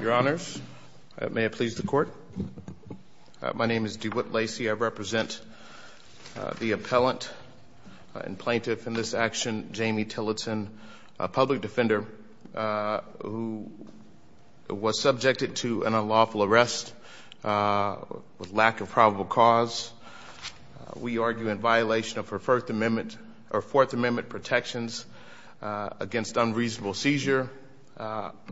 Your honors, may it please the court. My name is DeWitt Lacey. I represent the appellant and plaintiff in this action, Jami Tillotson, a public defender who was subjected to an unlawful arrest with lack of probable cause. We argue in violation of her First Amendment or Fourth Amendment protections against unreasonable seizure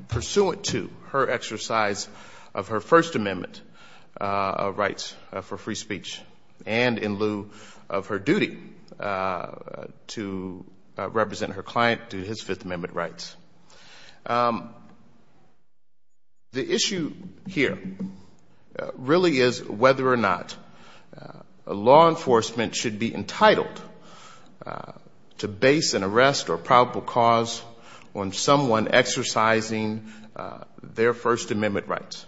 pursuant to her exercise of her First Amendment rights for free speech and in lieu of her duty to represent her client to his Fifth Amendment rights. The issue here really is whether or not law enforcement should be entitled to base an arrest or probable cause on someone exercising their First Amendment rights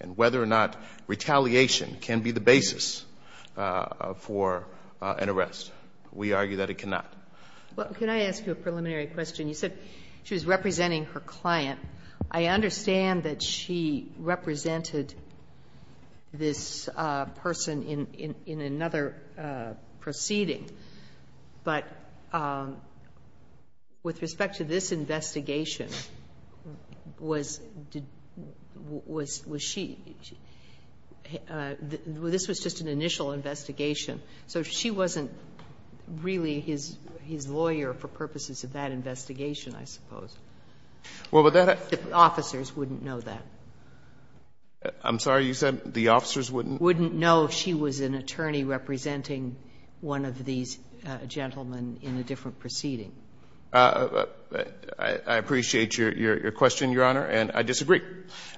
and whether or not retaliation can be the basis for an arrest. We argue that it cannot. Well, can I ask you a preliminary question? You said she was representing her client. I understand that she represented this person in another proceeding, but with respect to this investigation, this was just an initial investigation, so she wasn't really his lawyer for purposes of that investigation, I suppose. Well, would that have... I'm sorry, you said the officers wouldn't... Wouldn't know if she was an attorney representing one of these gentlemen in a different proceeding. I appreciate your question, Your Honor, and I disagree,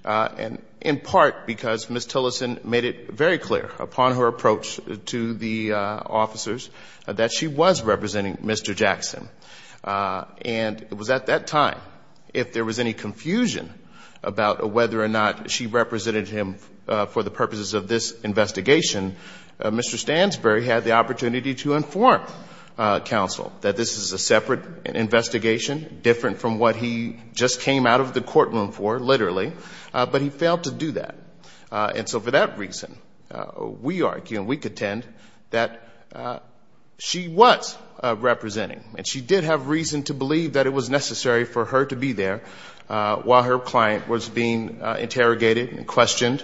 in part because Ms. Tillotson made it very clear upon her approach to the officers that she was representing Mr. Jackson. And it was at that time, if there was any confusion about whether or not she represented him for the purposes of this investigation, Mr. Stansbury had the opportunity to inform counsel that this is a separate investigation, different from what he just came out of the courtroom for, literally, but he failed to do that. And so for that reason, we argue and we contend that she was representing, and she did have reason to believe that it was necessary for her to be there while her client was being interrogated and questioned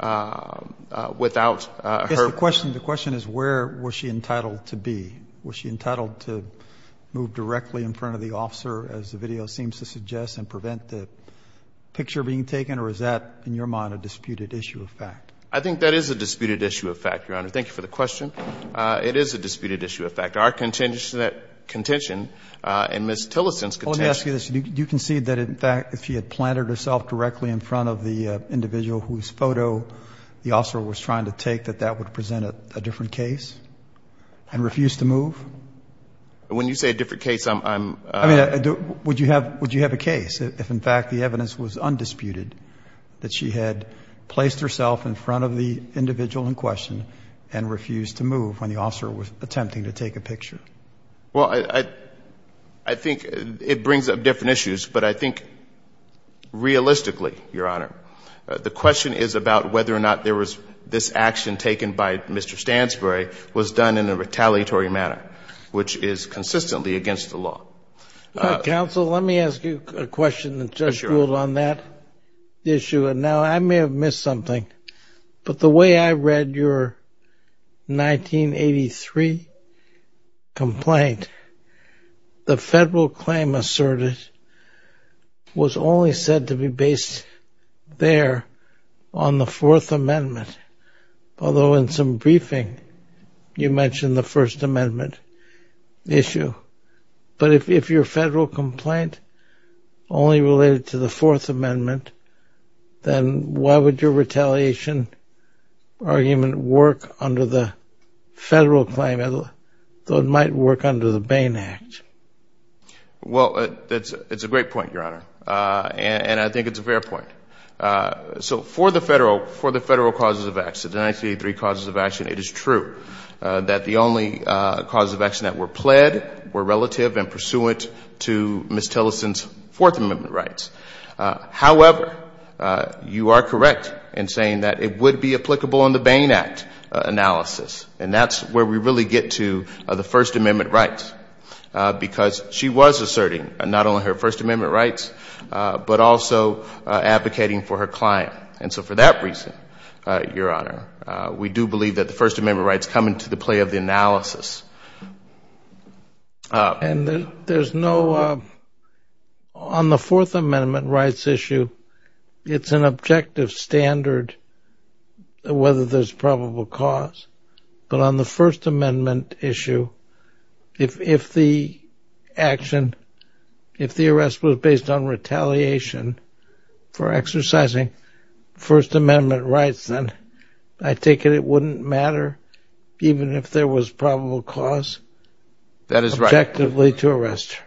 without her... Yes, the question is where was she entitled to be? Was she entitled to move directly in front of the officer, as the video seems to suggest, and prevent the picture being taken, or is that, in your mind, a disputed issue of fact? I think that is a disputed issue of fact, Your Honor. Thank you for the question. It is a disputed issue of fact. Our Let me ask you this. Do you concede that, in fact, if she had planted herself directly in front of the individual whose photo the officer was trying to take, that that would present a different case and refuse to move? When you say a different case, I'm... I mean, would you have a case if, in fact, the evidence was undisputed that she had placed herself in front of the individual in question and refused to move when the officer was attempting to take a picture? Well, I think, it brings up different issues, but I think, realistically, Your Honor, the question is about whether or not there was... This action taken by Mr. Stansbury was done in a retaliatory manner, which is consistently against the law. Counsel, let me ask you a question that just ruled on that issue. And now, I may have missed something, but the way I read your 1983 complaint, the federal claim asserted was only said to be based there on the Fourth Amendment. Although, in some briefing, you mentioned the First Amendment issue. But if your federal complaint only related to the Fourth Amendment, federal claim might work under the Bain Act. Well, it's a great point, Your Honor. And I think it's a fair point. So for the federal causes of action, the 1983 causes of action, it is true that the only causes of action that were pled were relative and pursuant to Ms. Tillerson's Fourth Amendment rights. However, you are correct in saying that it would be applicable on the Bain Act analysis. And that's where we really get to the First Amendment rights. Because she was asserting not only her First Amendment rights, but also advocating for her client. And so for that reason, Your Honor, we do believe that the First Amendment rights come into the play of the analysis. And there's no... On the Fourth Amendment rights issue, it's an objective standard whether there's probable cause. But on the First Amendment issue, if the action, if the arrest was based on retaliation for exercising First Amendment rights, then I take it it wouldn't matter, even if there was probable cause, objectively to arrest her.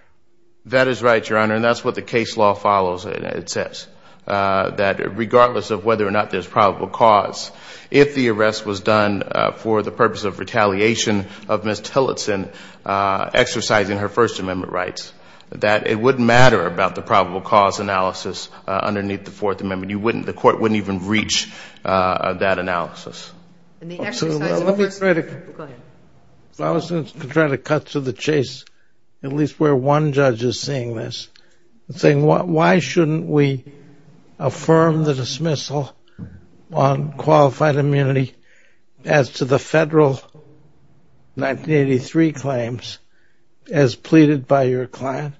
That is right, Your Honor. And that's what the case law follows, it says. That regardless of whether or not there's probable cause, if the arrest was done for the purpose of retaliation of Ms. Tillerson exercising her First Amendment rights, that it wouldn't matter about the probable cause analysis underneath the Fourth Amendment. You wouldn't, the court wouldn't even reach that analysis. Let me try to cut to the chase, at least where one judge is seeing this. Saying why shouldn't we affirm the dismissal on qualified immunity as to the federal 1983 claims as pleaded by your client,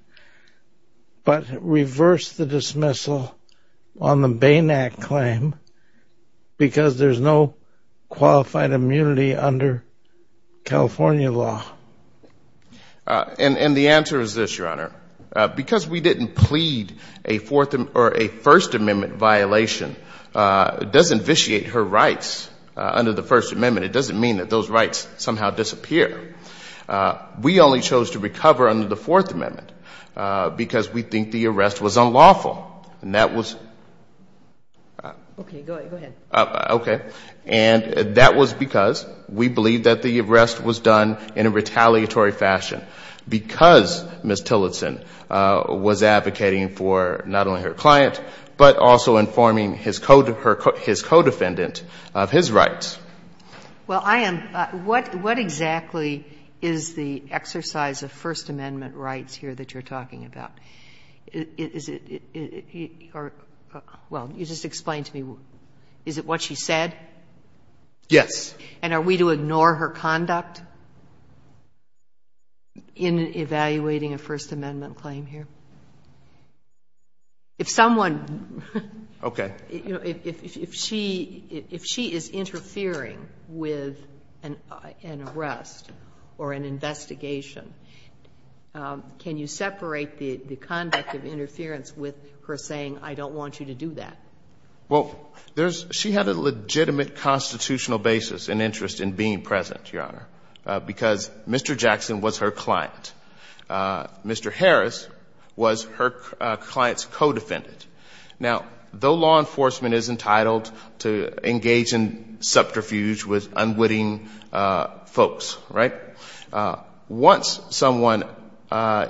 but reverse the dismissal on the Bain Act claim because there's no qualified immunity under California law? And the answer is this, Your Honor. Because we didn't plead a Fourth or a First Amendment violation, it doesn't vitiate her rights under the First Amendment. It doesn't mean that those rights somehow disappear. We only chose to recover under the Fourth Amendment because we think the arrest was unlawful. And that was. Okay, go ahead. Okay. And that was because we believe that the arrest was done in a retaliatory fashion because Ms. Tillerson was advocating for not only her client, but also informing his co-defendant of his rights. Well, I am, what exactly is the exercise of First Amendment rights here that you're talking about? Is it, or, well, you just explained to me, is it what she said? Yes. And are we to ignore her conduct in evaluating a First Amendment claim here? If someone. Okay. You know, if she is interfering with an arrest or an investigation, can you separate the conduct of interference with her saying, I don't want you to do that? Well, she had a legitimate constitutional basis and interest in being present, Your Honor, because Mr. Jackson was her client. Mr. Harris was her client's co-defendant. Now, though law enforcement is entitled to engage in subterfuge with unwitting folks, right? Once someone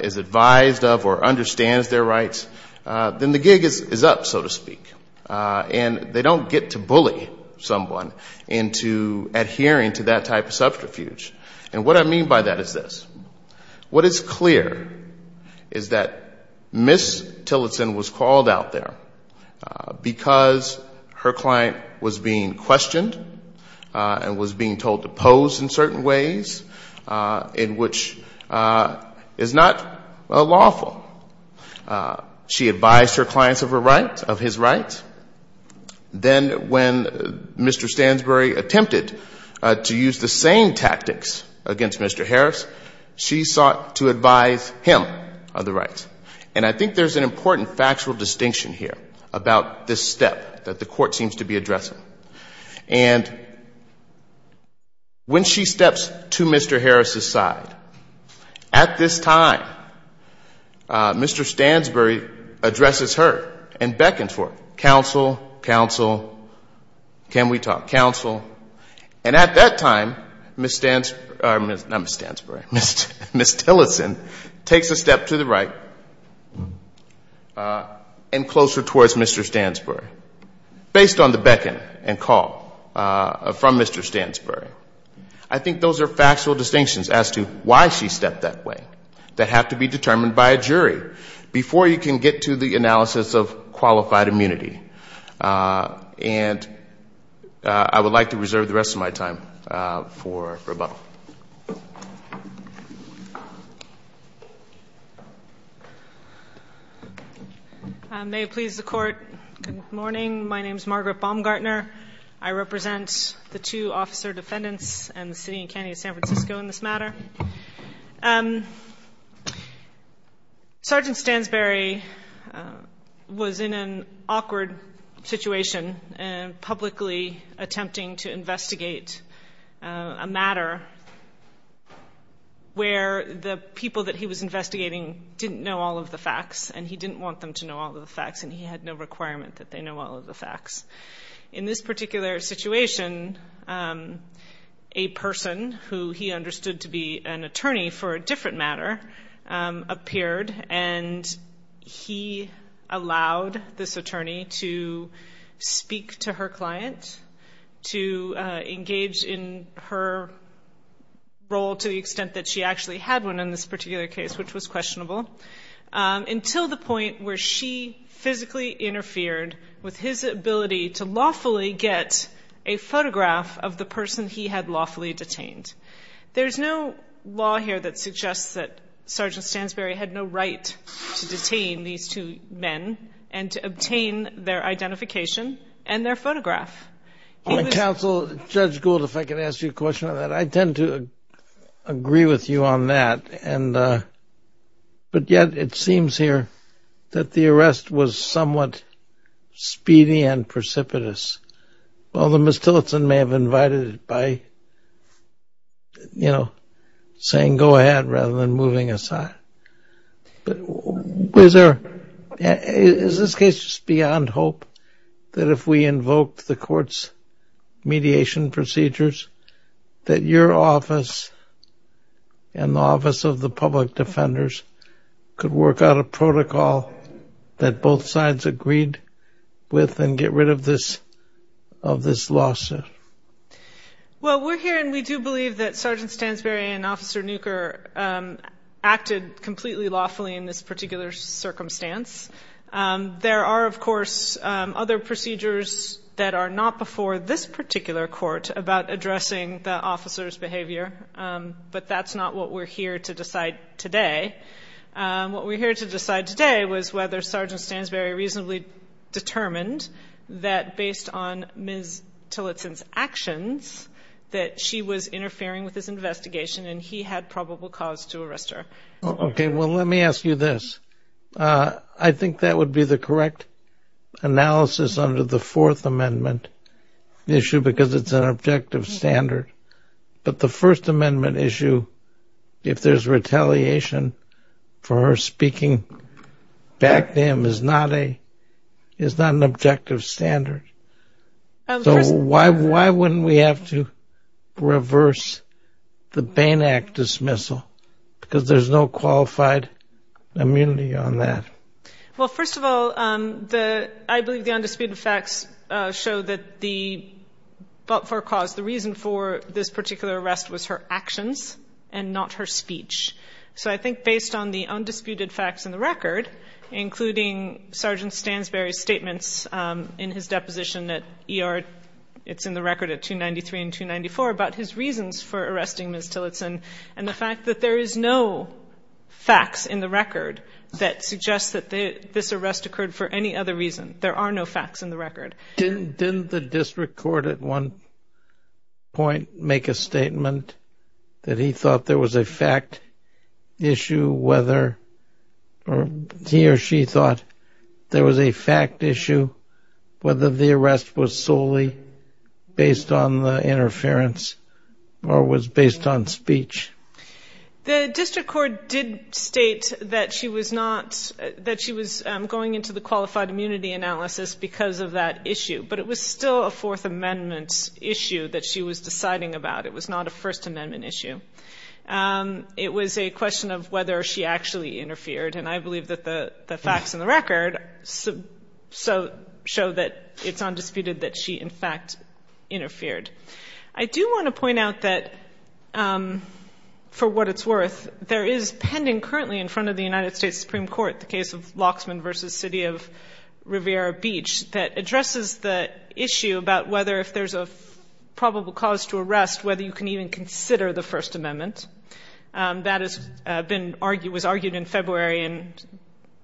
is advised of or understands their rights, then the gig is up, so to speak. And they don't get to bully someone into adhering to that type of subterfuge. And what I mean by that is this. What is clear is that Ms. Tillotson was called out there because her client was being questioned and was being told to pose in certain ways, in which is not lawful. She advised her clients of her rights, of his rights. Then when Mr. Stansbury attempted to use the same tactics against Mr. Harris, she sought to advise him of the rights. And I think there's an important factual distinction here about this step that the court seems to be addressing. And when she steps to Mr. Harris's side, at this time, Mr. Stansbury addresses her and beckons for counsel, counsel, can we talk, counsel. And at that time, Ms. Stansbury, not Ms. Stansbury, Ms. Tillotson takes a step to the right and closer towards Mr. Stansbury based on the beckon and call from Mr. Stansbury. I think those are factual distinctions as to why she stepped that way that have to be determined by a jury before you can get to the analysis of qualified immunity. And I would like to reserve the rest of my time for rebuttal. I may please the court. Good morning. My name is Margaret Baumgartner. I represent the two officer defendants and the city and county of San Francisco in this matter. Sergeant Stansbury was in an awkward situation and publicly attempting to investigate a matter where the people that he was investigating didn't know all of the facts and he didn't want them to know all of the facts and he had no requirement that they know all of the facts. In this particular situation, a person who he understood to be an attorney for a different matter appeared and he allowed this attorney to speak to her client, to engage in her role to the extent that she actually had one in this particular case, which was questionable, until the point where she physically interfered with his ability to lawfully get a photograph of the person he had lawfully detained. There's no law here that suggests that Sergeant Stansbury had no right to detain these two men and to obtain their identification and their photograph. Counsel, Judge Gould, if I could ask you a question on that. I tend to agree with you on that and but yet it seems here that the arrest was somewhat speedy and precipitous. Although Ms. Tillotson may have invited it by, you know, saying go ahead rather than moving aside. Is this case just beyond hope that if we invoked the court's mediation procedures that your office and the office of the public defenders could work out a protocol that both sides agreed with and get rid of this of this lawsuit? Well, we're here and we do believe that Sergeant Stansbury and Officer Newker acted completely lawfully in this particular circumstance. There are, of course, other procedures that are not before this particular court about addressing the officer's behavior, but that's not what we're here to decide today. What we're here to decide today was whether Sergeant Stansbury reasonably determined that based on Ms. Tillotson's actions that she was interfering with his investigation and he had probable cause to arrest her. Okay, well let me ask you this. I think that would be the correct analysis under the Fourth Amendment issue because it's an objective standard, but the First Amendment issue, if there's retaliation for her speaking back to him, is not an objective standard. So why wouldn't we have to reverse the Bain Act dismissal because there's no qualified immunity on that? Well, first of all, I believe the undisputed facts show that the reason for this particular arrest was her actions and not her speech. So I think based on the undisputed facts in the record, including Sergeant Stansbury's statements in his deposition at ER, it's in the record at 293 and 294, about his reasons for arresting Ms. Tillotson and the fact that there is no facts in the record that suggests that this arrest occurred for any other reason. There are no facts in the record. Didn't the district court at one point make a statement that he thought there was a fact issue whether or he or she thought there was a fact issue whether the arrest was solely based on the interference or was based on speech? The district court did state that she was going into the qualified immunity analysis because of that issue, but it was still a Fourth Amendment issue that she was deciding about. It was not a First Amendment issue. It was a question of whether she actually interfered, and I believe that the facts in the record show that it's undisputed that she in fact interfered. I do want to point out that, for what it's worth, there is pending currently in front of the United States Supreme Court the case of Loxman v. City of Riviera Beach that addresses the issue about whether if there's a probable cause to arrest, whether you can even consider the First Amendment. That was argued in February, and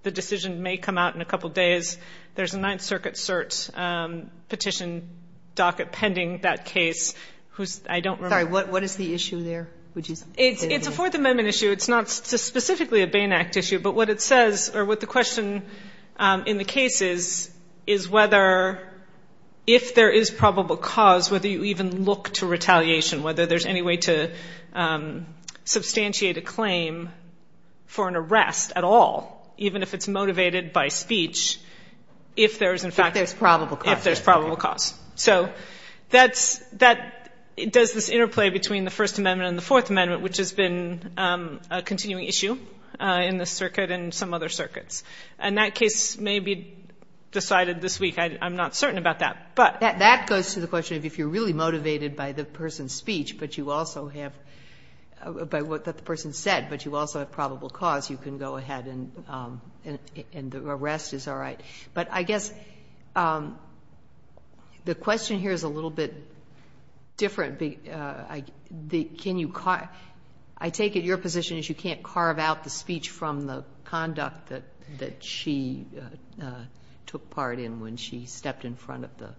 the decision may come out in a couple days. There's a Ninth Circuit cert petition docket pending that case. Sorry, what is the issue there? It's a Fourth Amendment issue. It's not specifically a Bain Act issue, but what it says or what the question in the case is, is whether if there is probable cause, whether you even look to retaliation, whether there's any way to substantiate a claim for an arrest at all, even if it's motivated by speech, if there is in fact... If there's probable cause. If there's probable cause. So that does this interplay between the First Amendment and the Fourth Amendment, which has been a continuing issue in this circuit and some other circuits. And that case may be decided this week. I'm not certain about that, but... That goes to the question of if you're really motivated by the person's speech, but you also have, by what the person said, but you also have probable cause, you can go ahead and the arrest is all right. But I guess the question here is a little bit different. I take it your position is you can't carve out the speech from the conduct that she took part in when she stepped in front of the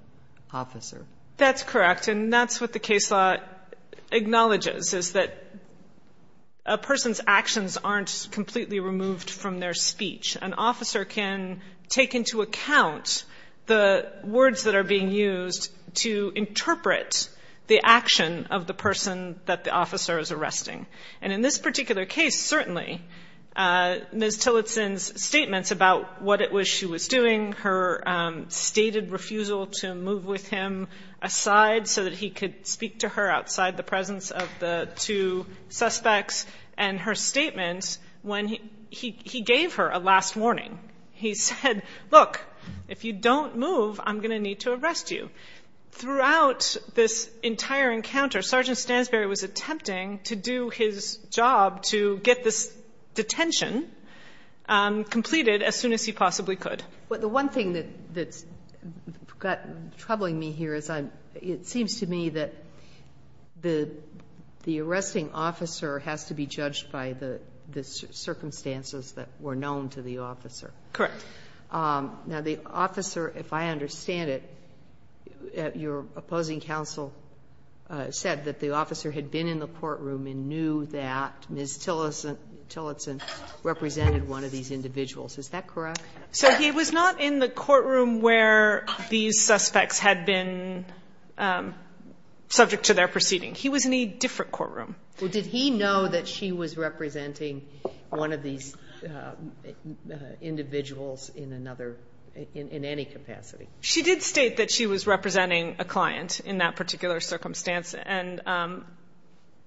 officer. That's correct. And that's what the case law acknowledges, is that a person's actions aren't completely removed from their speech. An officer can take into account the words that are being used to interpret the action of the person that the officer is arresting. And in this particular case, certainly, Ms. Tillotson's statements about what it was she was doing, her stated refusal to move with him aside so that he could speak to her outside the presence of the two suspects, and her statements when he gave her a last warning. He said, look, if you don't move, I'm going to need to arrest you. Throughout this entire encounter, Sergeant Stansberry was attempting to do his job to get this detention completed as soon as he possibly could. The one thing that's troubling me here is it seems to me that the arresting officer has to be judged by the circumstances that were known to the officer. Now, the officer, if I understand it, your opposing counsel said that the officer had been in the courtroom and knew that Ms. Tillotson represented one of these individuals. Is that correct? So he was not in the courtroom where these suspects had been subject to their proceeding. He was in a different courtroom. Well, did he know that she was representing one of these individuals in any capacity? She did state that she was representing a client in that particular circumstance, and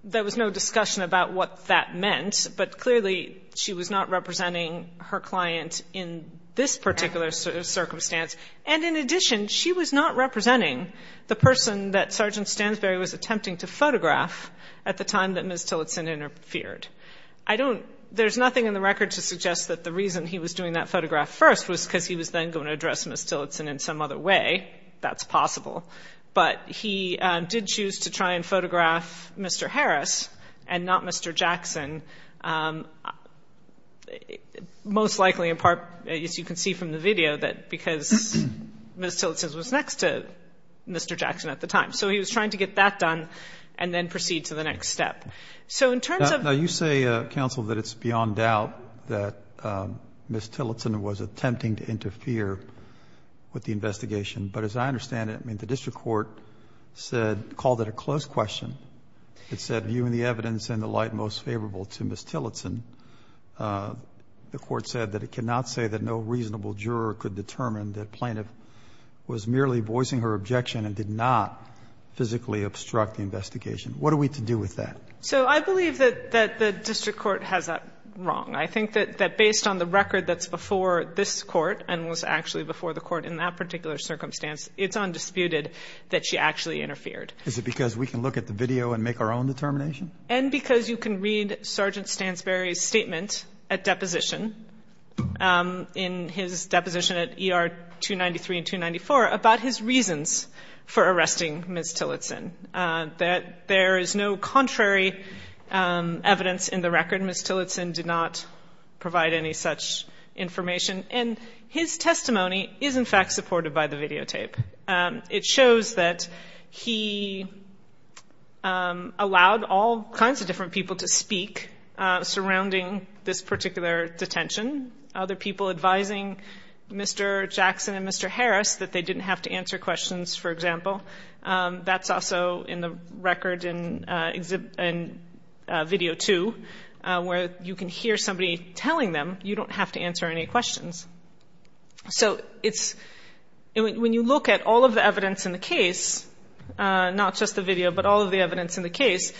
there was no discussion about what that meant. But clearly, she was not representing her client in this particular circumstance. And in addition, she was not representing the person that Sergeant Stansberry was attempting to photograph at the time that Ms. Tillotson interfered. There's nothing in the record to suggest that the reason he was doing that photograph first was because he was then going to address Ms. Tillotson in some other way. That's possible. But he did choose to try and photograph Mr. Harris and not Mr. Jackson, most likely in part, as you can see from the video, that because Ms. Tillotson was next to Mr. Jackson at the time. So he was trying to get that done and then proceed to the next step. So in terms of Now, you say, counsel, that it's beyond doubt that Ms. Tillotson was attempting to interfere with the investigation. But as I understand it, I mean, the district court said, called it a close question. It said, viewing the evidence in the light most favorable to Ms. Tillotson, the court said that it cannot say that no reasonable juror could determine that plaintiff was merely voicing her objection and did not physically obstruct the investigation. What are we to do with that? So I believe that the district court has that wrong. I think that based on the record that's before this court and was actually before the court in that particular circumstance, it's undisputed that she actually interfered. Is it because we can look at the video and make our own determination? And because you can read Sergeant Stansberry's statement at deposition, in his deposition at ER 293 and 294 about his reasons for arresting Ms. Tillotson, that there is no contrary evidence in the record. Ms. Tillotson did not provide any such information. And his testimony is in fact supported by the videotape. It shows that he allowed all kinds of different people to speak surrounding this particular detention. Other people advising Mr. Jackson and Mr. Harris that they didn't have to answer questions, for example. That's also in the record in video two, where you can hear somebody telling them, you don't have to answer any questions. So when you look at all of the evidence in the case, not just the video, but all of the evidence in the case,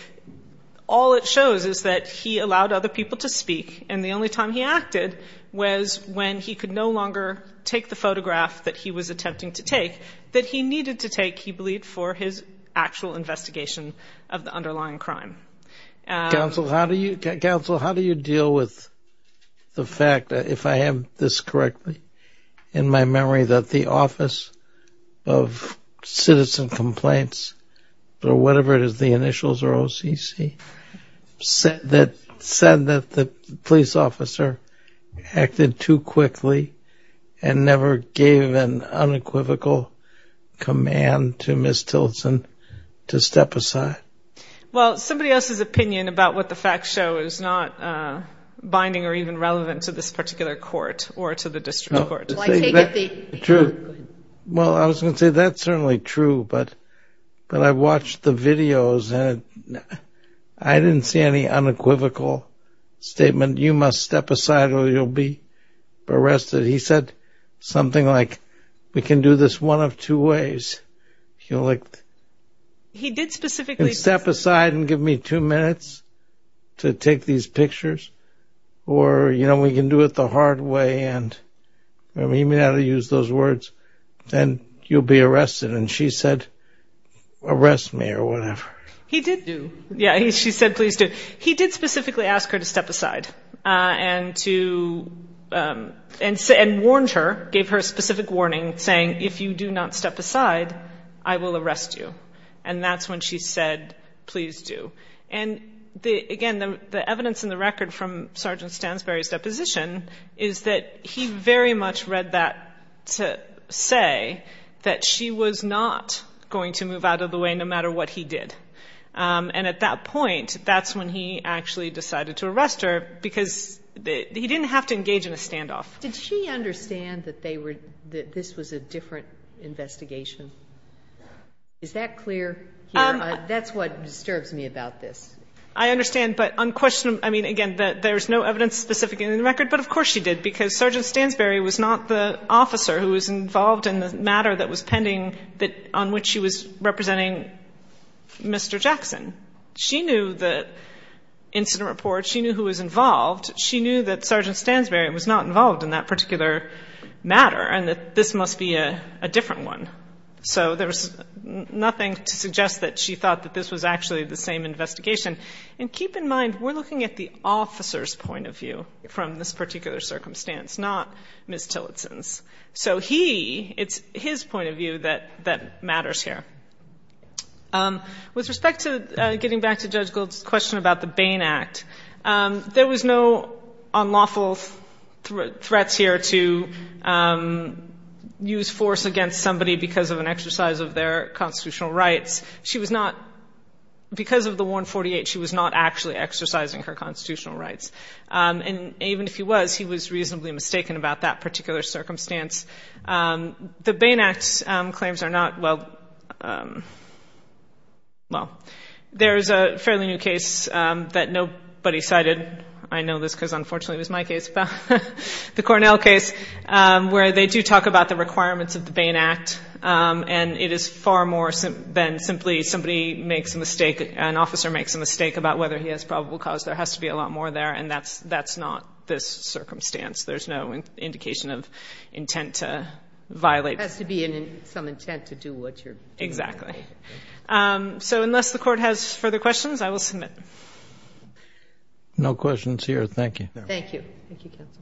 all it shows is that he allowed other people to speak. And the only time he acted was when he could no longer take the photograph that he was attempting to take, that he needed to take, he believed, for his actual investigation of the underlying crime. Counsel, how do you, counsel, how do you deal with the fact that, if I have this correctly, in my memory, that the Office of Citizen Complaints, or whatever it is, the initials are OCC, said that the police officer acted too quickly and never gave an unequivocal command to Ms. Tilson to step aside? Well, somebody else's opinion about what the facts show is not binding or even relevant to this particular court or to the district court. Well, I was going to say that's certainly true, but I watched the videos and I didn't see any unequivocal statement, you must step aside or you'll be arrested. He said something like, we can do this one of two ways. You know, like, he did specifically step aside and give me two minutes to take these pictures. Or, you know, we can do it the hard way. And I mean, he may not have used those words, and you'll be arrested. And she said, arrest me or whatever. He did do. Yeah, she said, please do. He did specifically ask her to step aside and warned her, gave her a specific warning saying, if you do not step aside, I will arrest you. And that's when she said, please do. And again, the evidence in the record from Sergeant Stansberry's deposition is that he very much read that to say that she was not going to move out of the way no matter what he did. And at that point, that's when he actually decided to arrest her because he didn't have to engage in a standoff. Did she understand that this was a different investigation? Is that clear? That's what disturbs me about this. I understand. But on question, I mean, again, there's no evidence specific in the record, but of course she did because Sergeant Stansberry was not the officer who was involved in the matter that was pending that on which she was representing Mr. Jackson. She knew the incident report. She knew who was involved. She knew that Sergeant Stansberry was not involved in that particular matter and that this must be a different one. So there was nothing to suggest that she thought that this was actually the same investigation. And keep in mind, we're looking at the officer's point of view from this particular circumstance, not Ms. Tillotson's. So he, it's his point of view that matters here. With respect to getting back to Judge Gould's question about the Bain Act, there was no unlawful threats here to use force against somebody because of an exercise of their constitutional rights. She was not, because of the 148, she was not actually exercising her constitutional rights. And even if he was, he was reasonably mistaken about that particular circumstance. The Bain Act claims are not, well, there's a fairly new case that nobody cited, I know this because unfortunately it was my case, the Cornell case, where they do talk about the requirements of the Bain Act and it is far more than simply somebody makes a mistake, an officer makes a mistake about whether he has probable cause. There has to be a lot more there and that's not this circumstance. There's no indication of intent to violate. There has to be some intent to do what you're doing. Exactly. So unless the court has further questions, I will submit. No questions here. Thank you. Thank you. Thank you, counsel.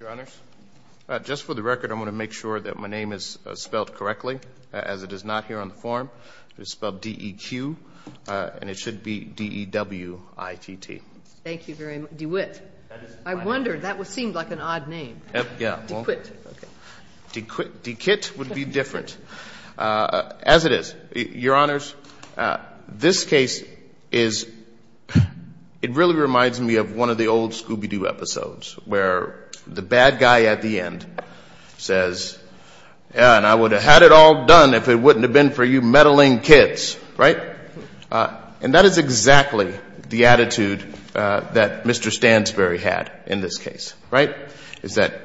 Your Honors, just for the record, I'm going to make sure that my name is spelled D-E-Q and it should be D-E-W-I-T-T. Thank you very much. DeWitt. I wondered. That seemed like an odd name. Yeah. DeQuitt. DeQuitt would be different. As it is, Your Honors, this case is, it really reminds me of one of the old Scooby-Doo episodes where the bad guy at the end says, and I would have had it all done if it were me. And that is exactly the attitude that Mr. Stansbury had in this case. Is that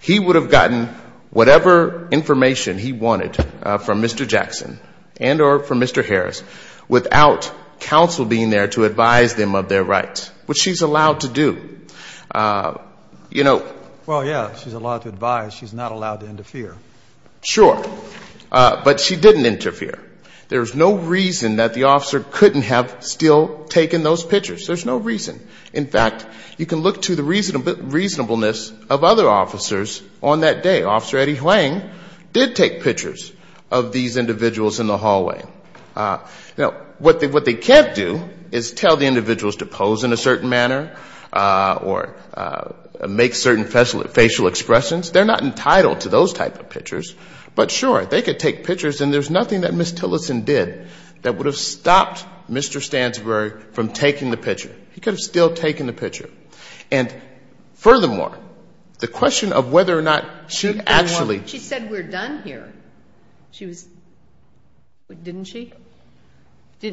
he would have gotten whatever information he wanted from Mr. Jackson and or from Mr. Harris without counsel being there to advise them of their rights, which she's allowed to do. Well, yeah. She's allowed to advise. She's not allowed to interfere. Sure. But she didn't interfere. There's no reason that the officer couldn't have still taken those pictures. There's no reason. In fact, you can look to the reasonableness of other officers on that day. Officer Eddie Huang did take pictures of these individuals in the hallway. Now, what they can't do is tell the individuals to pose in a certain manner or make certain facial expressions. They're not entitled to those type of pictures. But sure, they could take pictures. And there's nothing that Ms. Tillerson did that would have stopped Mr. Stansbury from taking the picture. He could have still taken the picture. And furthermore, the question of whether or not she actually... She said we're done here. She was... Didn't she?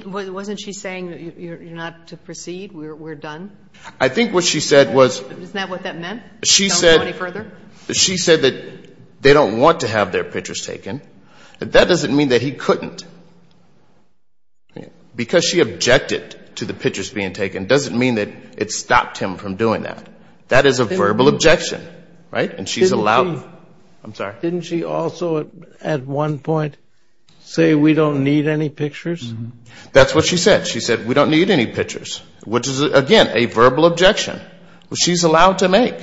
Wasn't she saying you're not to proceed? We're done? I think what she said was... Isn't that what that meant? She said... Don't go any further? She said that they don't want to have their pictures taken. But that doesn't mean that he couldn't. Because she objected to the pictures being taken doesn't mean that it stopped him from doing that. That is a verbal objection, right? And she's allowed... I'm sorry? Didn't she also at one point say we don't need any pictures? That's what she said. She said we don't need any pictures, which is, again, a verbal objection. She's allowed to make.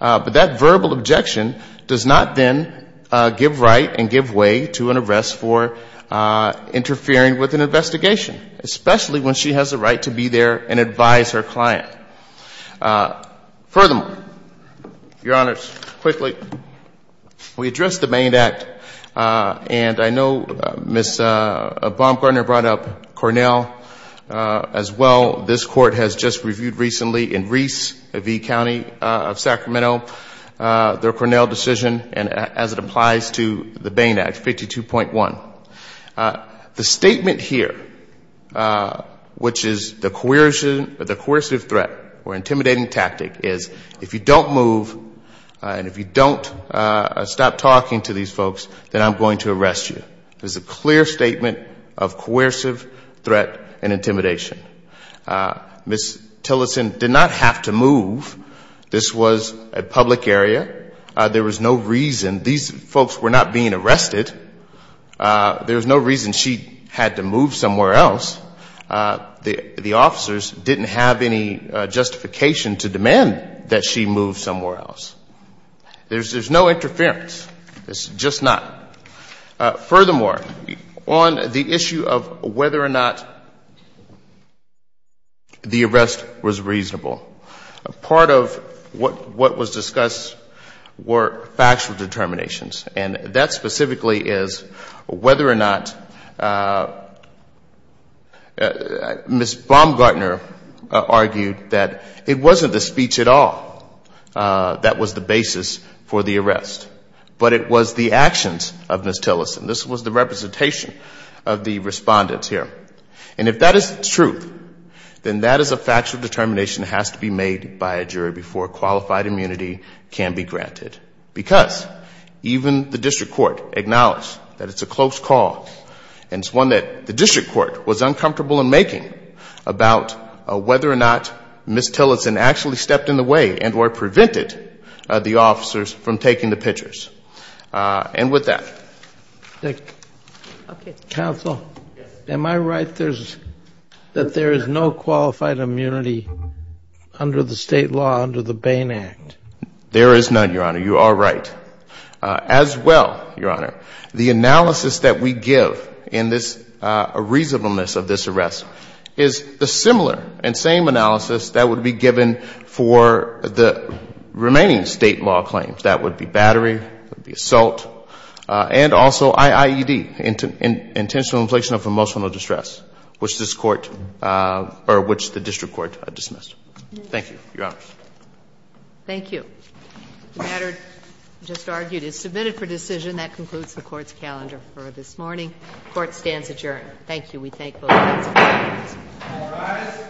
But that verbal objection does not then give right and give way to an arrest for interfering with an investigation, especially when she has the right to be there and advise her client. Furthermore, Your Honors, quickly, we addressed the Maine Act. And I know Ms. Baumgartner brought up Cornell as well. This Court has just reviewed recently in Reese v. County of Sacramento their Cornell decision as it applies to the Maine Act 52.1. The statement here, which is the coercive threat or intimidating tactic is if you don't move and if you don't stop talking to these folks, then I'm going to arrest you. It's a clear statement of coercive threat and intimidation. Ms. Tillerson did not have to move. This was a public area. There was no reason. These folks were not being arrested. There was no reason she had to move somewhere else. The officers didn't have any justification to demand that she move somewhere else. There's no interference. It's just not. Furthermore, on the issue of whether or not the arrest was reasonable, part of what was discussed were factual determinations. And that specifically is whether or not Ms. Baumgartner argued that it wasn't the speech at all that was the basis for the arrest, but it was the actions of Ms. Tillerson. This was the representation of the respondents here. And if that is the truth, then that is a factual determination that has to be made by a jury before qualified immunity can be granted. Because even the District Court acknowledged that it's a close call and it's one that the District Court was uncomfortable in making about whether or not Ms. Tillerson actually stepped in the way and or prevented the officers from taking the pictures. And with that... Counsel, am I right that there is no qualified immunity under the state law under the Bain Act? There is none, Your Honor. You are right. As well, Your Honor, the analysis that we give in this reasonableness of this arrest is the similar and same analysis that would be given for the remaining state law claims. That would be battery, that would be assault, and also IIED, intentional inflation of emotional distress, which this Court, or which the District Court dismissed. Thank you, Your Honor. Thank you. The matter just argued is submitted for decision. That concludes the Court's calendar for this morning. Court stands adjourned. Thank you. We thank both of you.